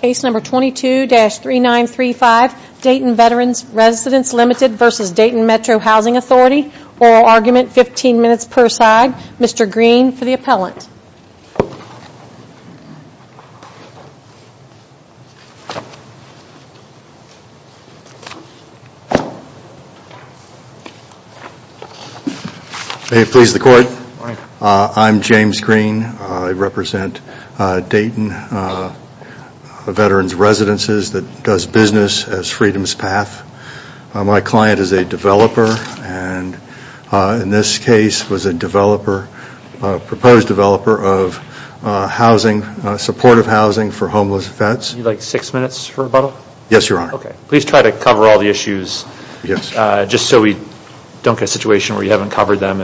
Case number 22-3935, Dayton Veterans Residences Ltd v. Dayton Metro Housing Authority. Oral argument, 15 minutes per side. Mr. Green for the appellant. May it please the court. I'm James Green. I represent Dayton Veterans Residences that does business as Freedom's Path. My client is a developer and in this case was a developer, a proposed developer of housing, supportive housing for homeless vets. You'd like six minutes for rebuttal? Yes, your honor. Please try to cover all the issues just so we don't get a situation where you haven't covered them.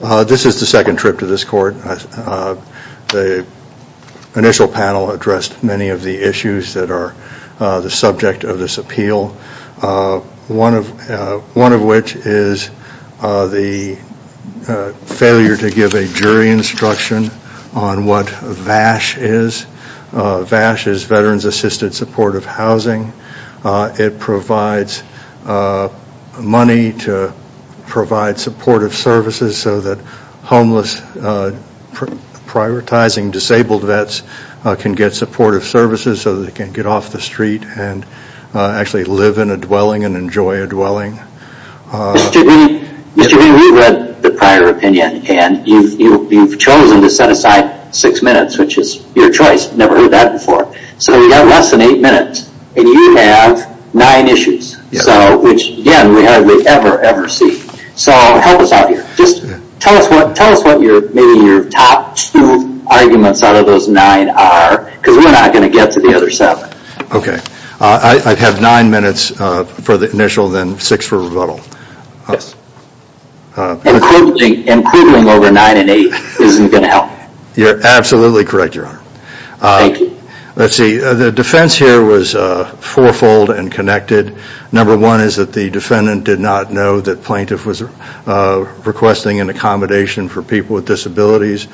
This is the second trip to this court. The initial panel addressed many of the issues that are the subject of this appeal. One of which is the failure to give a jury instruction on what VASH is. VASH is Veterans Assisted Supportive Housing. It provides money to provide supportive services so that homeless prioritizing disabled vets can get supportive services so they can get off the street and actually live in a dwelling and enjoy a dwelling. Mr. Green, we've read the prior opinion and you've chosen to set aside six minutes, which is your choice. Never heard that before. So we've got less than eight minutes and you have nine issues, which again we hardly ever, ever see. So help us out here. Tell us what your top two arguments out of those nine are because we're not going to get to the other seven. Okay, I have nine minutes for the initial then six for rebuttal. Including over nine and eight isn't going to help. You're absolutely correct, your honor. Thank you. Let's see, the defense here was four-fold and connected. Number one is that the defendant did not know that plaintiff was requesting an accommodation for people with disabilities.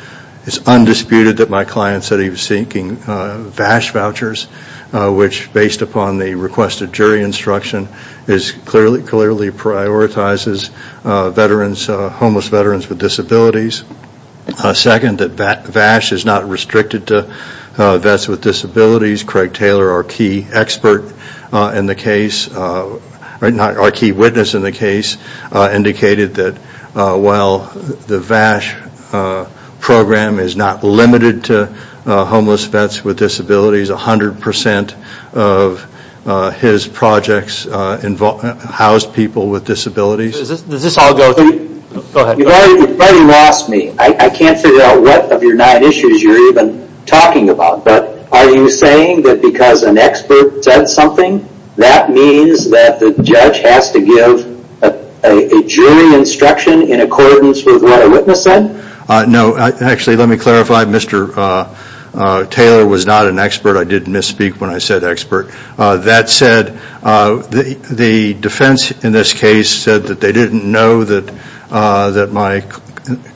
It's undisputed that my client said he was seeking VASH vouchers, which based upon the requested jury instruction clearly prioritizes homeless veterans with disabilities. Second, that VASH is not restricted to vets with disabilities. Craig Taylor, our key witness in the case, indicated that while the VASH program is not limited to homeless vets with disabilities, 100% of his projects house people with disabilities. Does this all go through? Go ahead. You've already lost me. I can't figure out what of your nine issues you're even talking about. Are you saying that because an expert said something, that means that the judge has to give a jury instruction in accordance with what a witness said? No. Actually, let me clarify. Mr. Taylor was not an expert. I didn't misspeak when I said expert. That said, the defense in this case said that they didn't know that my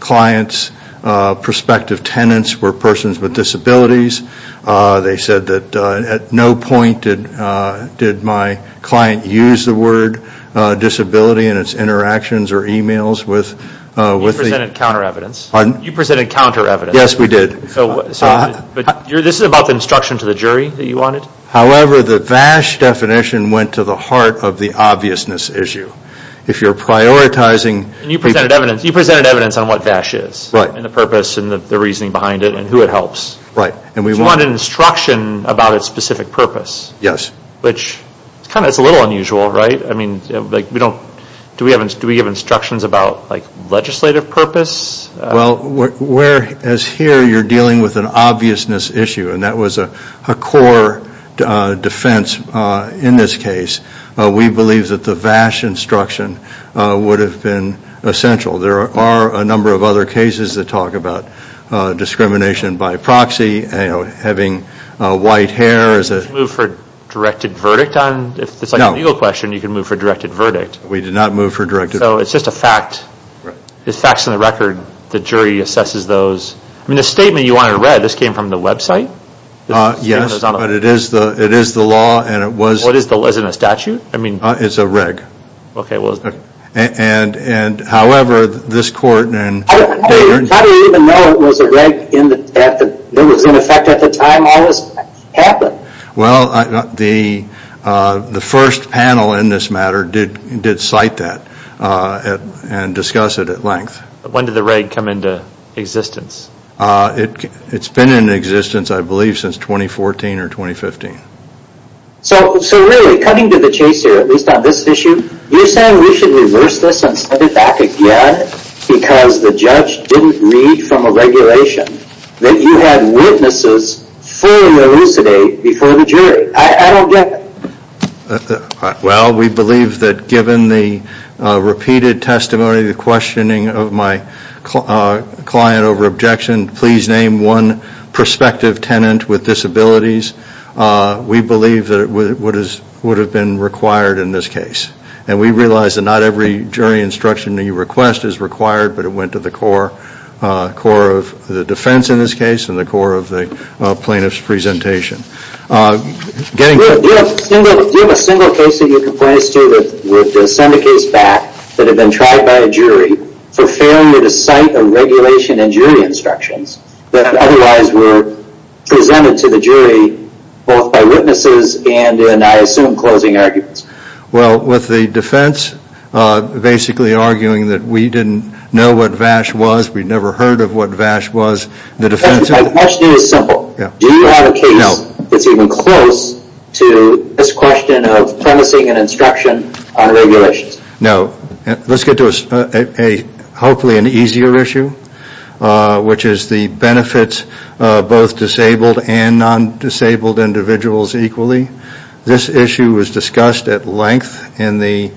client's prospective tenants were persons with disabilities. They said that at no point did my client use the word disability in its interactions or e-mails. You presented counter evidence. Pardon? You presented counter evidence. Yes, we did. This is about the instruction to the jury that you wanted? However, the VASH definition went to the heart of the obviousness issue. If you're prioritizing... You presented evidence on what VASH is and the purpose and the reasoning behind it and who it helps. Right. You wanted instruction about its specific purpose. Yes. Which is a little unusual, right? Do we give instructions about legislative purpose? Well, whereas here you're dealing with an obviousness issue, and that was a core defense in this case, we believe that the VASH instruction would have been essential. There are a number of other cases that talk about discrimination by proxy, having white hair. Did you move for a directed verdict? No. If it's a legal question, you can move for a directed verdict. We did not move for a directed... It's just a fact. Right. It's facts on the record. The jury assesses those. The statement you wanted read, this came from the website? Yes, but it is the law and it was... Is it a statute? It's a reg. Okay. However, this court... How do you even know it was a reg? It was in effect at the time all this happened. Well, the first panel in this matter did cite that and discuss it at length. When did the reg come into existence? It's been in existence, I believe, since 2014 or 2015. So really, coming to the chase here, at least on this issue, you're saying we should reverse this and set it back again because the judge didn't read from a regulation that you had witnesses fully elucidate before the jury. I don't get it. Well, we believe that given the repeated testimony, the questioning of my client over objection, please name one prospective tenant with disabilities, we believe that it would have been required in this case. And we realize that not every jury instruction that you request is required, but it went to the core of the defense in this case and the core of the plaintiff's presentation. Do you have a single case that you can point us to that would send a case back that had been tried by a jury for failure to cite a regulation in jury instructions that otherwise were presented to the jury both by witnesses and in, I assume, closing arguments? Well, with the defense basically arguing that we didn't know what VASH was, we'd never heard of what VASH was. My question is simple. Do you have a case that's even close to this question of promising an instruction on regulations? No. Let's get to hopefully an easier issue, which is the benefits of both disabled and non-disabled individuals equally. This issue was discussed at length in the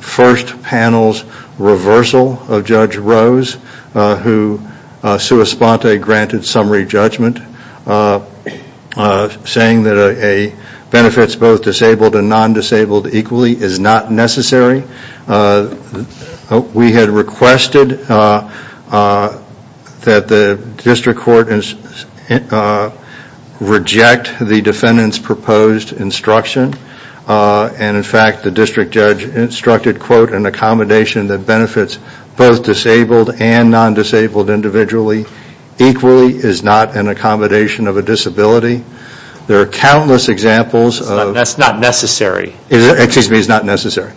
first panel's reversal of Judge Rose, who sua sponte granted summary judgment saying that benefits both disabled and non-disabled equally is not necessary. We had requested that the district court reject the defendant's proposed instruction, and in fact the district judge instructed, quote, an accommodation that benefits both disabled and non-disabled individually equally is not an accommodation of a disability. There are countless examples of... That's not necessary. Excuse me, it's not necessary.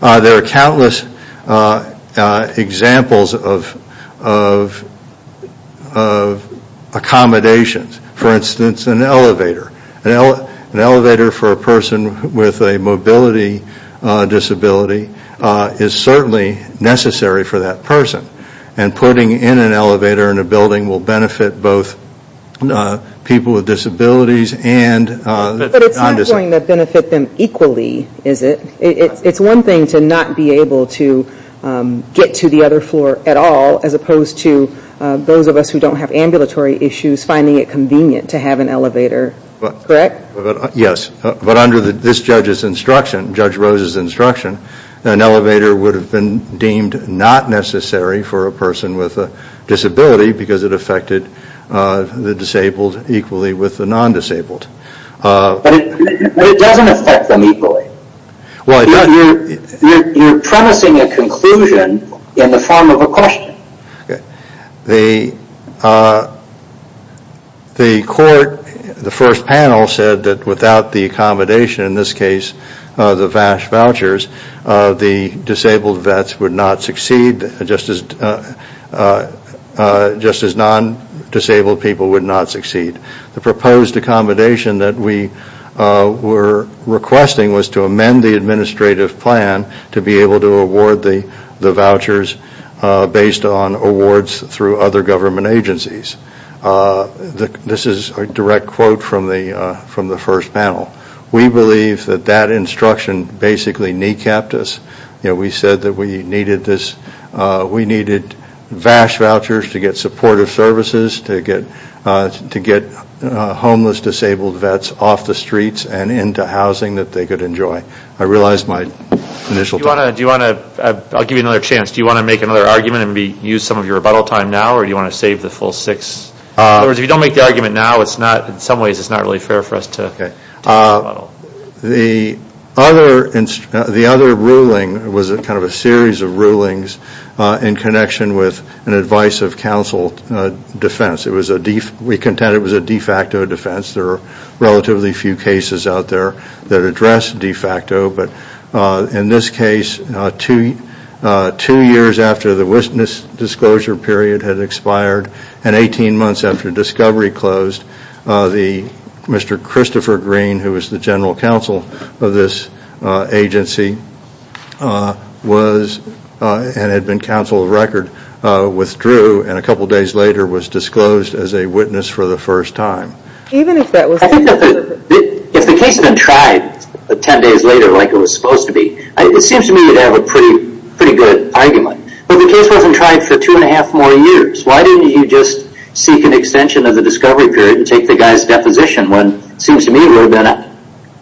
There are countless examples of accommodations. For instance, an elevator. An elevator for a person with a mobility disability is certainly necessary for that person, and putting in an elevator in a building will benefit both people with disabilities and non-disabled. But it's not going to benefit them equally, is it? It's one thing to not be able to get to the other floor at all, as opposed to those of us who don't have ambulatory issues finding it convenient to have an elevator, correct? Yes, but under this judge's instruction, Judge Rose's instruction, an elevator would have been deemed not necessary for a person with a disability because it affected the disabled equally with the non-disabled. But it doesn't affect them equally. You're promising a conclusion in the form of a question. The court, the first panel, said that without the accommodation, in this case the VASH vouchers, the disabled vets would not succeed just as non-disabled people would not succeed. The proposed accommodation that we were requesting was to amend the administrative plan to be able to award the vouchers based on awards through other government agencies. This is a direct quote from the first panel. We believe that that instruction basically kneecapped us. We said that we needed VASH vouchers to get supportive services, to get homeless disabled vets off the streets and into housing that they could enjoy. I realize my initial... I'll give you another chance. Do you want to make another argument and use some of your rebuttal time now, or do you want to save the full six? In other words, if you don't make the argument now, in some ways it's not really fair for us to rebuttal. The other ruling was kind of a series of rulings in connection with an advice of counsel defense. We contend it was a de facto defense. There are relatively few cases out there that address de facto. In this case, two years after the witness disclosure period had expired and 18 months after discovery closed, Mr. Christopher Green, who was the general counsel of this agency and had been counsel of record, withdrew and a couple days later was disclosed as a witness for the first time. I think if the case had been tried 10 days later like it was supposed to be, it seems to me you'd have a pretty good argument. But the case wasn't tried for two and a half more years. Why didn't you just seek an extension of the discovery period and take the guy's deposition when it seems to me it would have been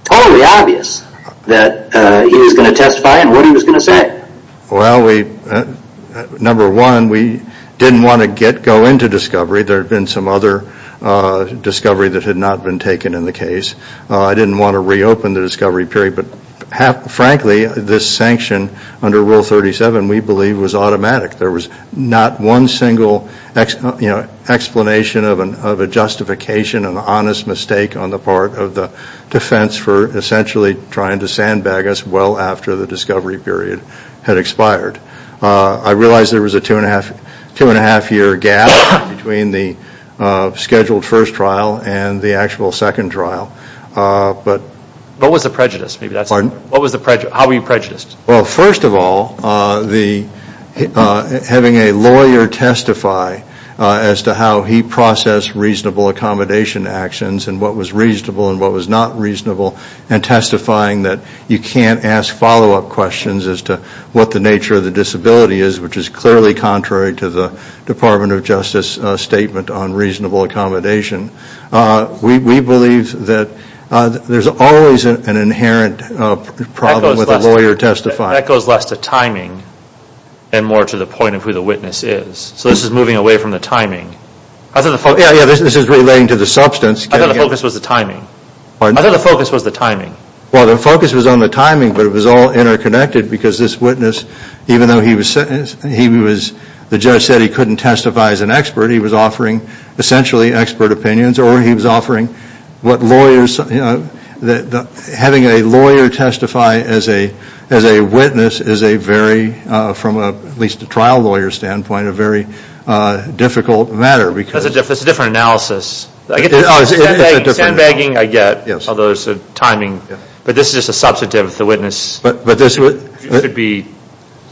totally obvious that he was going to testify and what he was going to say? Well, number one, we didn't want to go into discovery. There had been some other discovery that had not been taken in the case. I didn't want to reopen the discovery period, but frankly, this sanction under Rule 37 we believe was automatic. There was not one single explanation of a justification, an honest mistake on the part of the defense for essentially trying to sandbag us well after the discovery period had expired. I realize there was a two and a half year gap between the scheduled first trial and the actual second trial. What was the prejudice? Pardon? How were you prejudiced? Well, first of all, having a lawyer testify as to how he processed reasonable accommodation actions and what was reasonable and what was not reasonable and testifying that you can't ask follow-up questions as to what the nature of the disability is, which is clearly contrary to the Department of Justice statement on reasonable accommodation. We believe that there's always an inherent problem with a lawyer testifying. That goes less to timing and more to the point of who the witness is. So this is moving away from the timing. Yeah, this is relating to the substance. I thought the focus was the timing. Pardon? I thought the focus was the timing. Well, the focus was on the timing, but it was all interconnected because this witness, even though the judge said he couldn't testify as an expert, he was offering essentially expert opinions or he was offering what lawyers, having a lawyer testify as a witness is a very, from at least a trial lawyer standpoint, a very difficult matter because That's a different analysis. Sandbagging I get, although it's the timing. But this is just a substantive of the witness. But this would be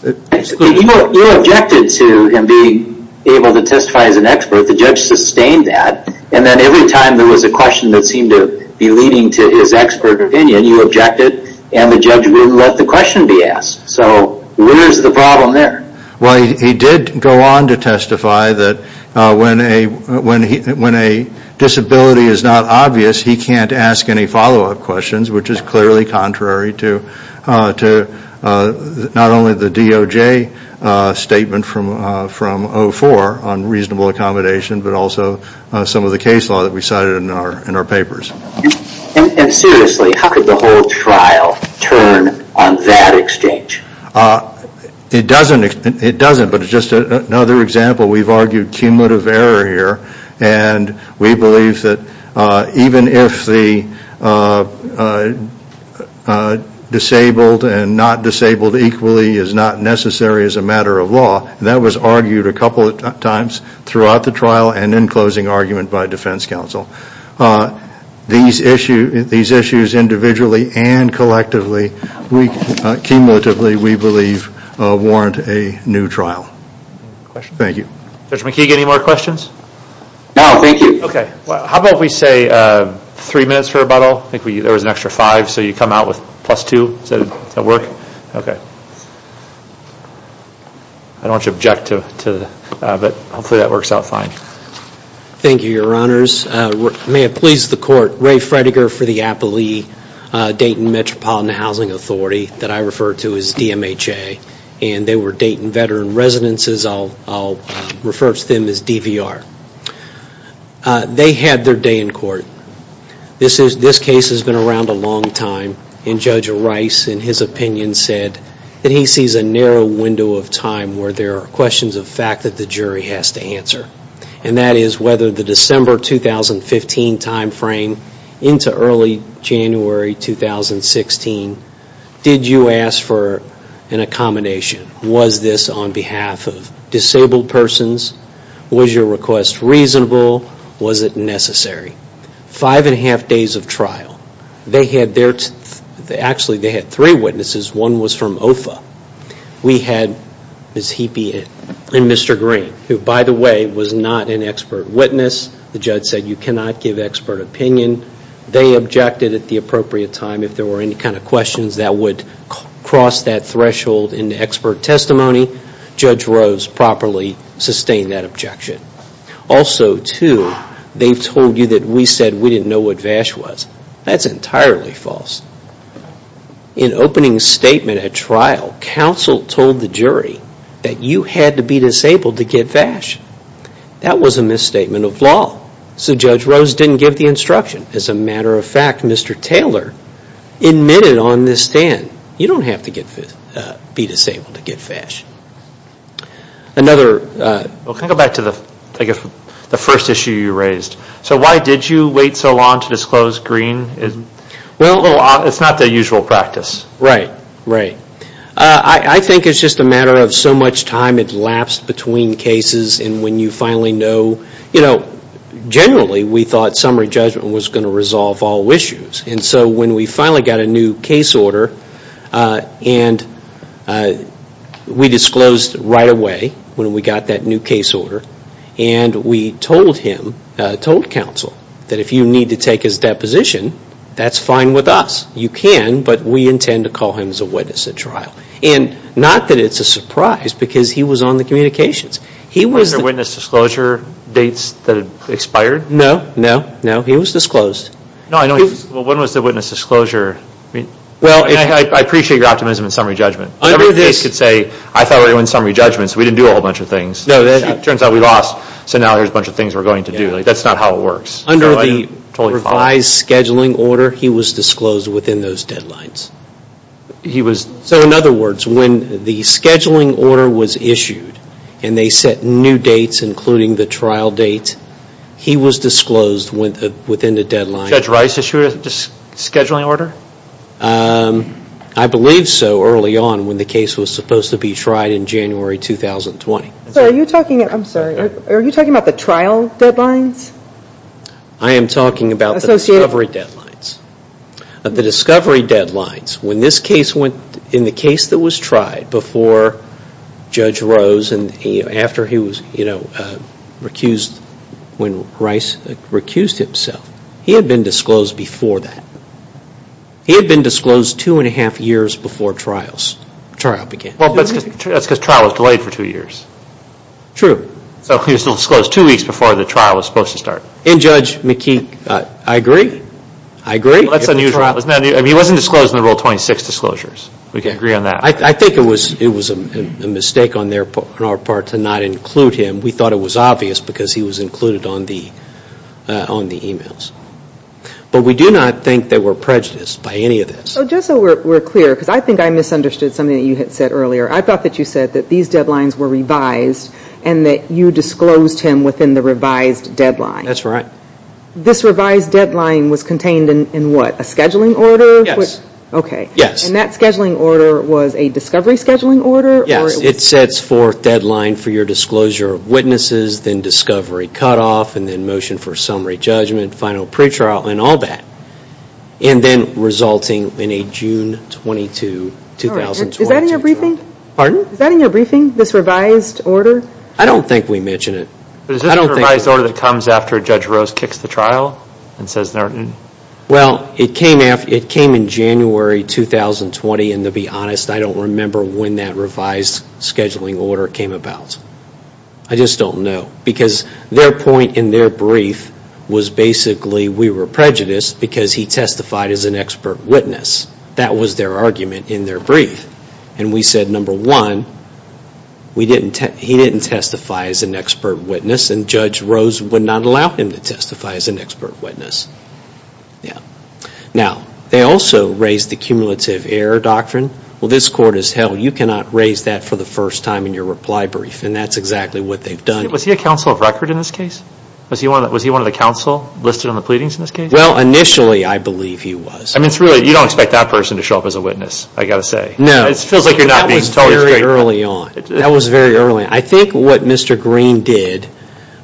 You objected to him being able to testify as an expert. The judge sustained that. And then every time there was a question that seemed to be leading to his expert opinion, you objected and the judge wouldn't let the question be asked. So where's the problem there? Well, he did go on to testify that when a disability is not obvious, he can't ask any follow-up questions, which is clearly contrary to not only the DOJ statement from 04 on reasonable accommodation, but also some of the case law that we cited in our papers. And seriously, how could the whole trial turn on that exchange? It doesn't, but it's just another example. We've argued cumulative error here. And we believe that even if the disabled and not disabled equally is not necessary as a matter of law, that was argued a couple of times throughout the trial and in closing argument by defense counsel. These issues individually and collectively, cumulatively, we believe warrant a new trial. Thank you. Judge McKeague, any more questions? No, thank you. Okay, how about we say three minutes for rebuttal? I think there was an extra five, so you come out with plus two. Does that work? Okay. I don't want you to object, but hopefully that works out fine. Thank you, Your Honors. May it please the court, Ray Fredegar for the Appalachian Dayton Metropolitan Housing Authority, that I refer to as DMHA. And they were Dayton veteran residences. I'll refer to them as DVR. They had their day in court. This case has been around a long time. And Judge Rice, in his opinion, said that he sees a narrow window of time where there are questions of fact that the jury has to answer. And that is whether the December 2015 time frame into early January 2016, did you ask for an accommodation? Was this on behalf of disabled persons? Was your request reasonable? Was it necessary? Five and a half days of trial. Actually, they had three witnesses. One was from OFA. We had Ms. Heapy and Mr. Green, who, by the way, was not an expert witness. The judge said you cannot give expert opinion. They objected at the appropriate time. If there were any kind of questions that would cross that threshold into expert testimony, Judge Rose properly sustained that objection. Also, too, they've told you that we said we didn't know what VASH was. That's entirely false. In opening statement at trial, counsel told the jury that you had to be disabled to get VASH. That was a misstatement of law. So Judge Rose didn't give the instruction. As a matter of fact, Mr. Taylor admitted on this stand, you don't have to be disabled to get VASH. Can I go back to the first issue you raised? So why did you wait so long to disclose Green? Well, it's not the usual practice. Right, right. I think it's just a matter of so much time had lapsed between cases and when you finally know, you know, generally we thought summary judgment was going to resolve all issues. And so when we finally got a new case order, and we disclosed right away when we got that new case order, and we told him, told counsel, that if you need to take his deposition, that's fine with us. You can, but we intend to call him as a witness at trial. And not that it's a surprise, because he was on the communications. Were there witness disclosure dates that had expired? No, no, no. He was disclosed. No, I know he was. Well, when was the witness disclosure? Well, I appreciate your optimism in summary judgment. Under this. I thought we were doing summary judgments. We didn't do a whole bunch of things. No, it turns out we lost. So now here's a bunch of things we're going to do. That's not how it works. Under the revised scheduling order, he was disclosed within those deadlines. He was. So in other words, when the scheduling order was issued, and they set new dates including the trial date, he was disclosed within the deadline. Judge Rice issued a scheduling order? I believe so early on when the case was supposed to be tried in January 2020. So are you talking about the trial deadlines? I am talking about the discovery deadlines. The discovery deadlines. When this case went in the case that was tried before Judge Rose and after he was recused when Rice recused himself, he had been disclosed before that. He had been disclosed two and a half years before trial began. Well, that's because trial was delayed for two years. True. So he was disclosed two weeks before the trial was supposed to start. And Judge McKee, I agree. I agree. That's unusual. He wasn't disclosed in the Rule 26 disclosures. We can agree on that. I think it was a mistake on our part to not include him. We thought it was obvious because he was included on the emails. But we do not think that we're prejudiced by any of this. Just so we're clear, because I think I misunderstood something that you had said earlier. I thought that you said that these deadlines were revised and that you disclosed him within the revised deadline. That's right. This revised deadline was contained in what, a scheduling order? Yes. Okay. Yes. And that scheduling order was a discovery scheduling order? Yes. It sets forth deadline for your disclosure of witnesses, then discovery cutoff, and then motion for summary judgment, final pretrial, and all that. And then resulting in a June 22, 2020. Is that in your briefing? Pardon? Is that in your briefing, this revised order? I don't think we mention it. But is this a revised order that comes after Judge Rose kicks the trial and says they're in? Well, it came in January 2020. And to be honest, I don't remember when that revised scheduling order came about. I just don't know. Because their point in their brief was basically we were prejudiced because he testified as an expert witness. That was their argument in their brief. And we said, number one, he didn't testify as an expert witness, and Judge Rose would not allow him to testify as an expert witness. Now, they also raised the cumulative error doctrine. Well, this court has held you cannot raise that for the first time in your reply brief. And that's exactly what they've done. Was he a counsel of record in this case? Was he one of the counsel listed on the pleadings in this case? Well, initially, I believe he was. I mean, you don't expect that person to show up as a witness, I've got to say. No. It feels like you're not being totally straight. That was very early on. That was very early on. I think what Mr. Green did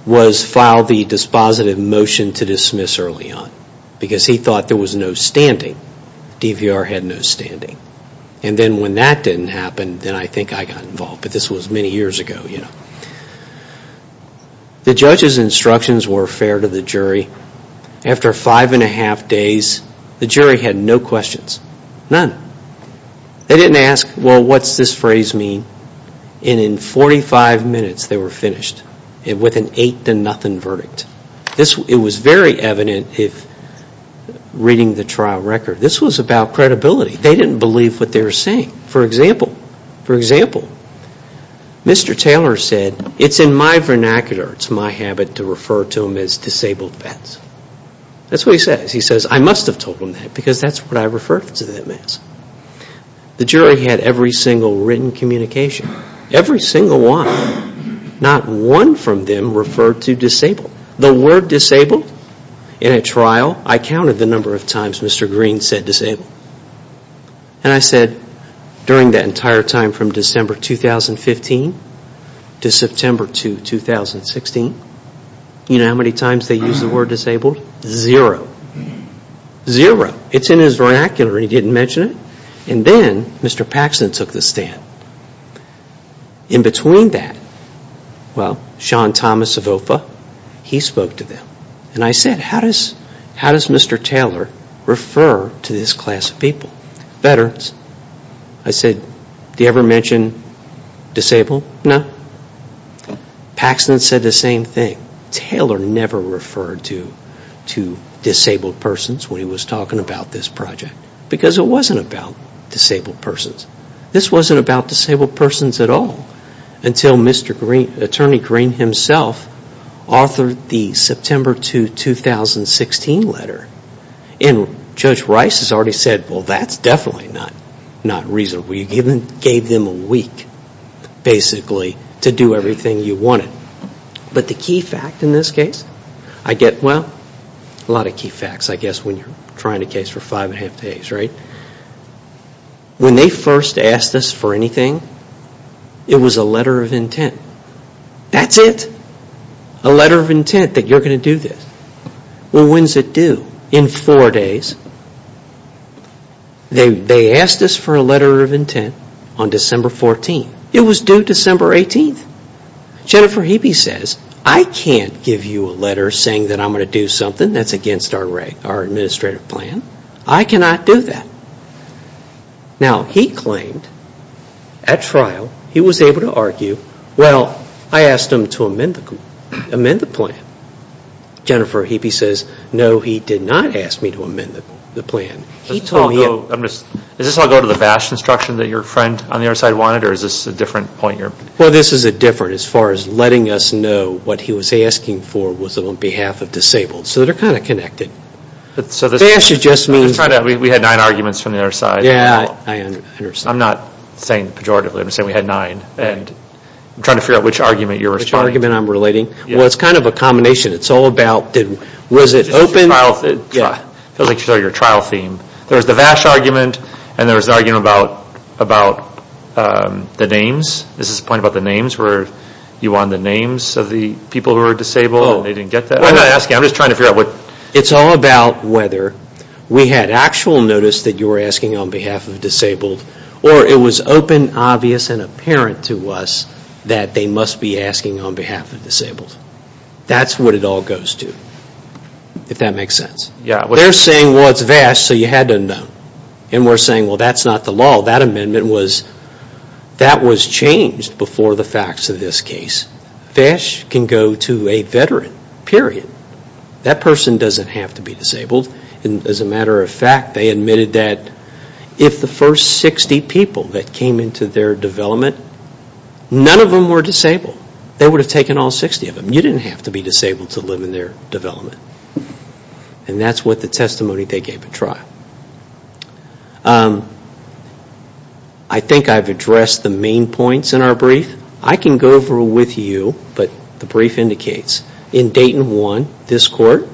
was file the dispositive motion to dismiss early on. Because he thought there was no standing. DVR had no standing. And then when that didn't happen, then I think I got involved. But this was many years ago. The judge's instructions were fair to the jury. After five and a half days, the jury had no questions. They didn't ask, well, what's this phrase mean? And in 45 minutes, they were finished with an eight to nothing verdict. It was very evident if reading the trial record. This was about credibility. They didn't believe what they were saying. For example, for example, Mr. Taylor said, it's in my vernacular, it's my habit to refer to them as disabled vets. That's what he says. He says, I must have told them that because that's what I referred to them as. The jury had every single written communication. Every single one. Not one from them referred to disabled. The word disabled in a trial, I counted the number of times Mr. Green said disabled. And I said, during that entire time from December 2015 to September 2016, you know how many times they used the word disabled? Zero. Zero. It's in his vernacular and he didn't mention it. And then Mr. Paxson took the stand. In between that, well, Sean Thomas of OFA, he spoke to them. And I said, how does Mr. Taylor refer to this class of people? Veterans. I said, do you ever mention disabled? No. Paxson said the same thing. Taylor never referred to disabled persons when he was talking about this project because it wasn't about disabled persons. This wasn't about disabled persons at all until Mr. Green, Attorney Green himself, authored the September 2, 2016 letter. And Judge Rice has already said, well, that's definitely not reasonable. You gave them a week, basically, to do everything you wanted. But the key fact in this case, I get, well, a lot of key facts, I guess, when you're trying a case for five and a half days, right? When they first asked us for anything, it was a letter of intent. That's it. A letter of intent that you're going to do this. Well, when's it due? In four days. They asked us for a letter of intent on December 14. It was due December 18. Jennifer Hebe says, I can't give you a letter saying that I'm going to do something. That's against our administrative plan. I cannot do that. Now, he claimed, at trial, he was able to argue, well, I asked him to amend the plan. Jennifer Hebe says, no, he did not ask me to amend the plan. He told me... Does this all go to the BASH instruction that your friend on the other side wanted, or is this a different point here? Well, this is a different, as far as letting us know what he was asking for was on behalf of disabled. So they're kind of connected. BASH just means... We had nine arguments from the other side. Yeah, I understand. I'm not saying pejoratively. I'm saying we had nine. I'm trying to figure out which argument you're referring to. Which argument I'm relating? Well, it's kind of a combination. It's all about, was it open? It feels like you're talking about your trial theme. There was the BASH argument, and there was the argument about the names. Is this a point about the names, where you wanted the names of the people who were disabled, and they didn't get that? I'm not asking. I'm just trying to figure out what... It's all about whether we had actual notice that you were asking on behalf of disabled, or it was open, obvious, and apparent to us that they must be asking on behalf of disabled. That's what it all goes to, if that makes sense. They're saying, well, it's BASH, so you had to know. And we're saying, well, that's not the law. That amendment was... That was changed before the facts of this case. BASH can go to a veteran, period. That person doesn't have to be disabled. As a matter of fact, they admitted that if the first 60 people that came into their development, none of them were disabled. They would have taken all 60 of them. You didn't have to be disabled to live in their development. And that's what the testimony they gave at trial. I think I've addressed the main points in our brief. And I can go over with you, but the brief indicates in Dayton 1, this court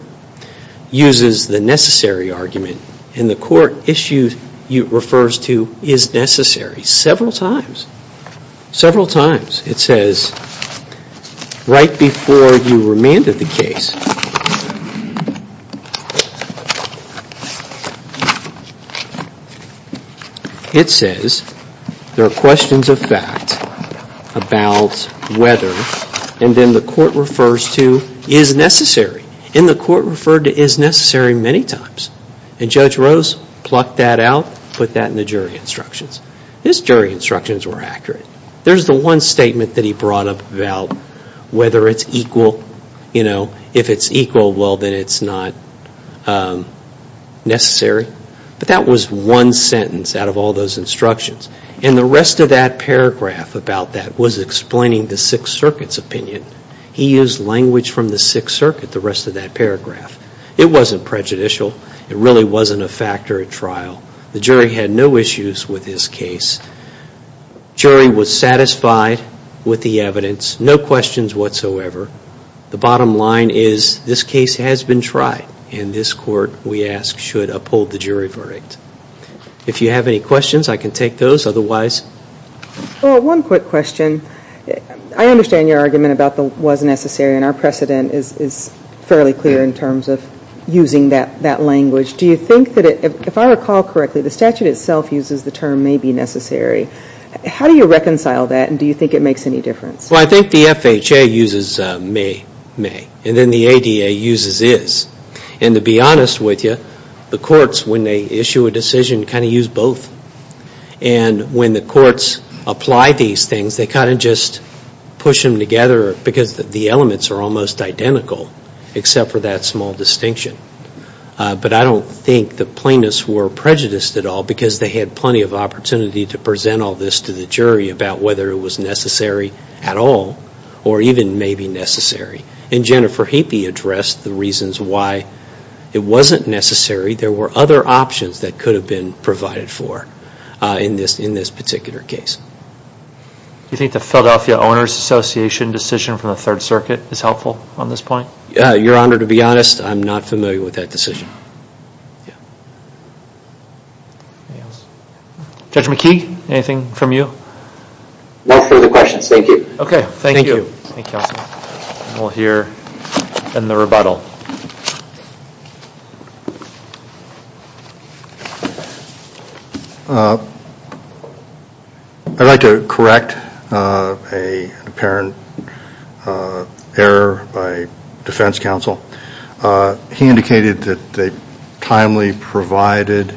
uses the necessary argument. And the court issue refers to is necessary several times. Several times. It says right before you remanded the case, it says there are questions of fact about whether, and then the court refers to is necessary. And the court referred to is necessary many times. And Judge Rose plucked that out, put that in the jury instructions. His jury instructions were accurate. There's the one statement that he brought up about whether it's equal, if it's equal, well, then it's not necessary. But that was one sentence out of all those instructions. And the rest of that paragraph about that was explaining the Sixth Circuit's opinion. He used language from the Sixth Circuit, the rest of that paragraph. It wasn't prejudicial. It really wasn't a factor at trial. The jury had no issues with his case. Jury was satisfied with the evidence. No questions whatsoever. The bottom line is this case has been tried, and this court, we ask, should uphold the jury verdict. If you have any questions, I can take those. Well, one quick question. I understand your argument about the was necessary, and our precedent is fairly clear in terms of using that language. Do you think that if I recall correctly, the statute itself uses the term may be necessary. How do you reconcile that, and do you think it makes any difference? Well, I think the FHA uses may, may. And then the ADA uses is. And to be honest with you, the courts, when they issue a decision, kind of use both. And when the courts apply these things, they kind of just push them together because the elements are almost identical except for that small distinction. But I don't think the plaintiffs were prejudiced at all because they had plenty of opportunity to present all this to the jury about whether it was necessary at all or even may be necessary. And Jennifer Heapy addressed the reasons why it wasn't necessary. There were other options that could have been provided for in this particular case. Do you think the Philadelphia Owners Association decision from the Third Circuit is helpful on this point? Your Honor, to be honest, I'm not familiar with that decision. Judge McKee, anything from you? No further questions. Thank you. Okay. Thank you. We'll hear in the rebuttal. I'd like to correct an apparent error by defense counsel. He indicated that they timely provided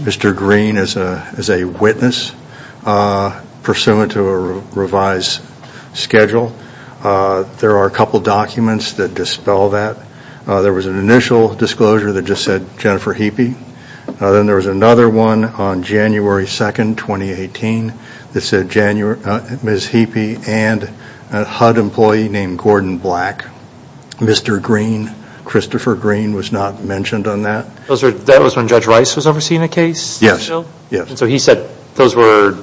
Mr. Green as a witness pursuant to a revised schedule. There are a couple documents that dispel that. There was an initial disclosure that just said Jennifer Heapy. Then there was another one on January 2, 2018 that said Ms. Heapy and a HUD employee named Gordon Black. Mr. Green, Christopher Green, was not mentioned on that. That was when Judge Rice was overseeing the case? Yes. He said those were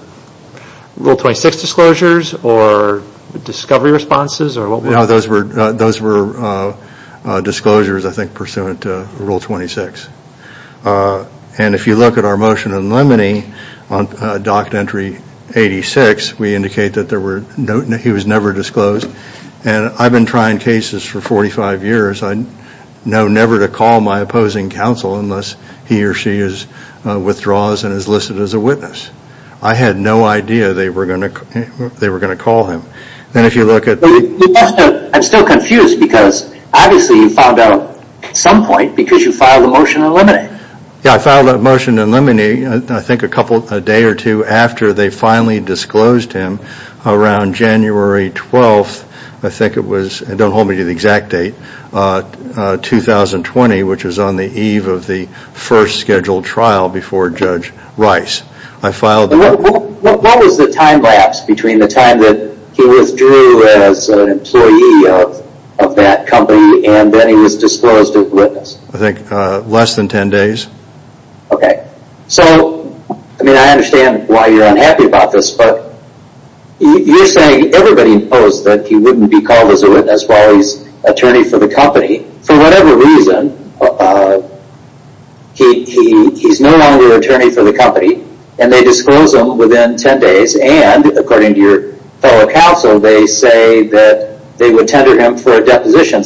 Rule 26 disclosures or discovery responses? Those were disclosures, I think, pursuant to Rule 26. If you look at our motion in limine on Doctrine Entry 86, we indicate that he was never disclosed. I've been trying cases for 45 years. I know never to call my opposing counsel unless he or she withdraws and is listed as a witness. I had no idea they were going to call him. I'm still confused because obviously you found out at some point because you filed a motion in limine. I filed a motion in limine I think a day or two after they finally disclosed him around January 12. I think it was, and don't hold me to the exact date, 2020, which is on the eve of the first scheduled trial before Judge Rice. What was the time lapse between the time that he withdrew as an employee of that company and then he was disclosed as a witness? I think less than 10 days. I understand why you're unhappy about this, but you're saying everybody knows that he wouldn't be called as a witness while he's attorney for the company. For whatever reason, he's no longer attorney for the company and they disclose him within 10 days. According to your fellow counsel, they say that they would tender him for a deposition.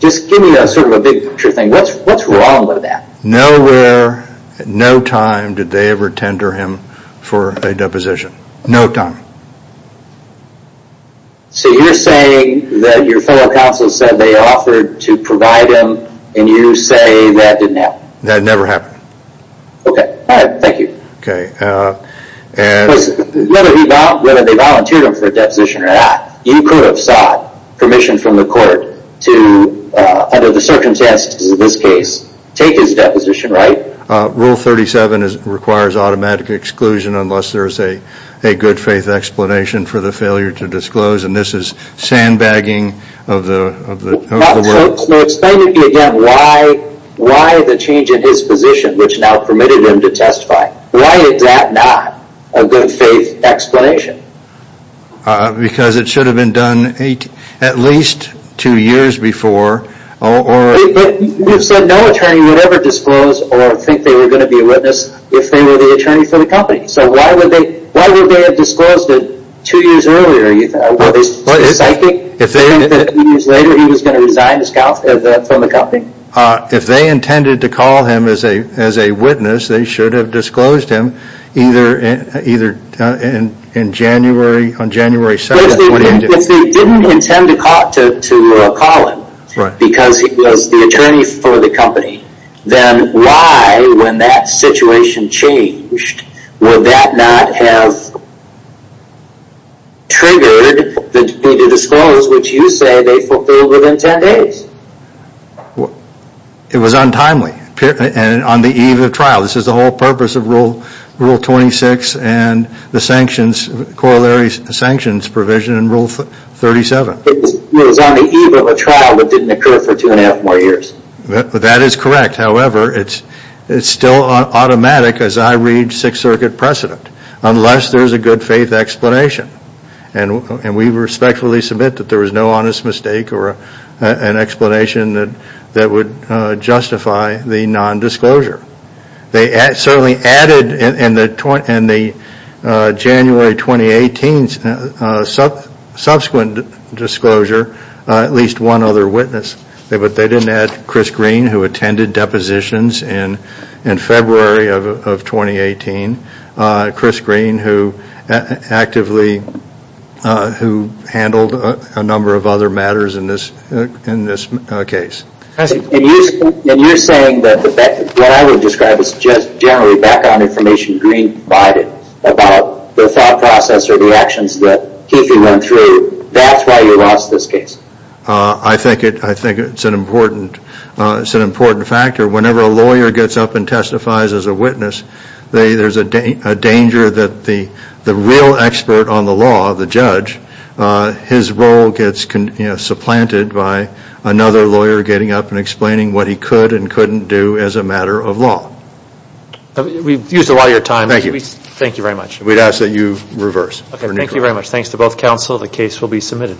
Just give me a big picture thing. What's wrong with that? Where, at no time, did they ever tender him for a deposition. No time. So you're saying that your fellow counsel said they offered to provide him and you say that didn't happen. That never happened. Okay, alright, thank you. Whether they volunteered him for a deposition or not, you could have sought permission from the court to, under the circumstances of this case, take his deposition, right? Rule 37 requires automatic exclusion unless there is a good faith explanation for the failure to disclose. And this is sandbagging of the world. Explain to me again why the change in his position, which now permitted him to testify. Why is that not a good faith explanation? Because it should have been done at least two years before. You said no attorney would ever disclose or think they were going to be a witness if they were the attorney for the company. So why would they have disclosed it two years earlier? Were they psychic? Two years later he was going to resign from the company? If they intended to call him as a witness, they should have disclosed him either on January 2nd. If they didn't intend to call him because he was the attorney for the company, then why, when that situation changed, would that not have triggered them to disclose, which you say they fulfilled within 10 days? It was untimely. On the eve of trial. This is the whole purpose of Rule 26 and the corollary sanctions provision in Rule 37. It was on the eve of a trial that didn't occur for two and a half more years. That is correct. However, it is still automatic as I read Sixth Circuit precedent. Unless there is a good faith explanation. And we respectfully submit that there was no honest mistake or an explanation that would justify the non-disclosure. They certainly added in the January 2018 subsequent disclosure at least one other witness. But they didn't add Chris Green who attended depositions in February of 2018. Chris Green who actively, who handled a number of other matters in this case. And you're saying that what I would describe as just generally background information Green provided about the thought process or the actions that Keefey went through. That's why you lost this case. I think it's an important factor. Whenever a lawyer gets up and testifies as a witness. There is a danger that the real expert on the law, the judge. His role gets supplanted by another lawyer getting up and explaining what he could and couldn't do as a matter of law. We've used a lot of your time. Thank you very much. We'd ask that you reverse. Thank you very much. Thanks to both counsel. The case will be submitted.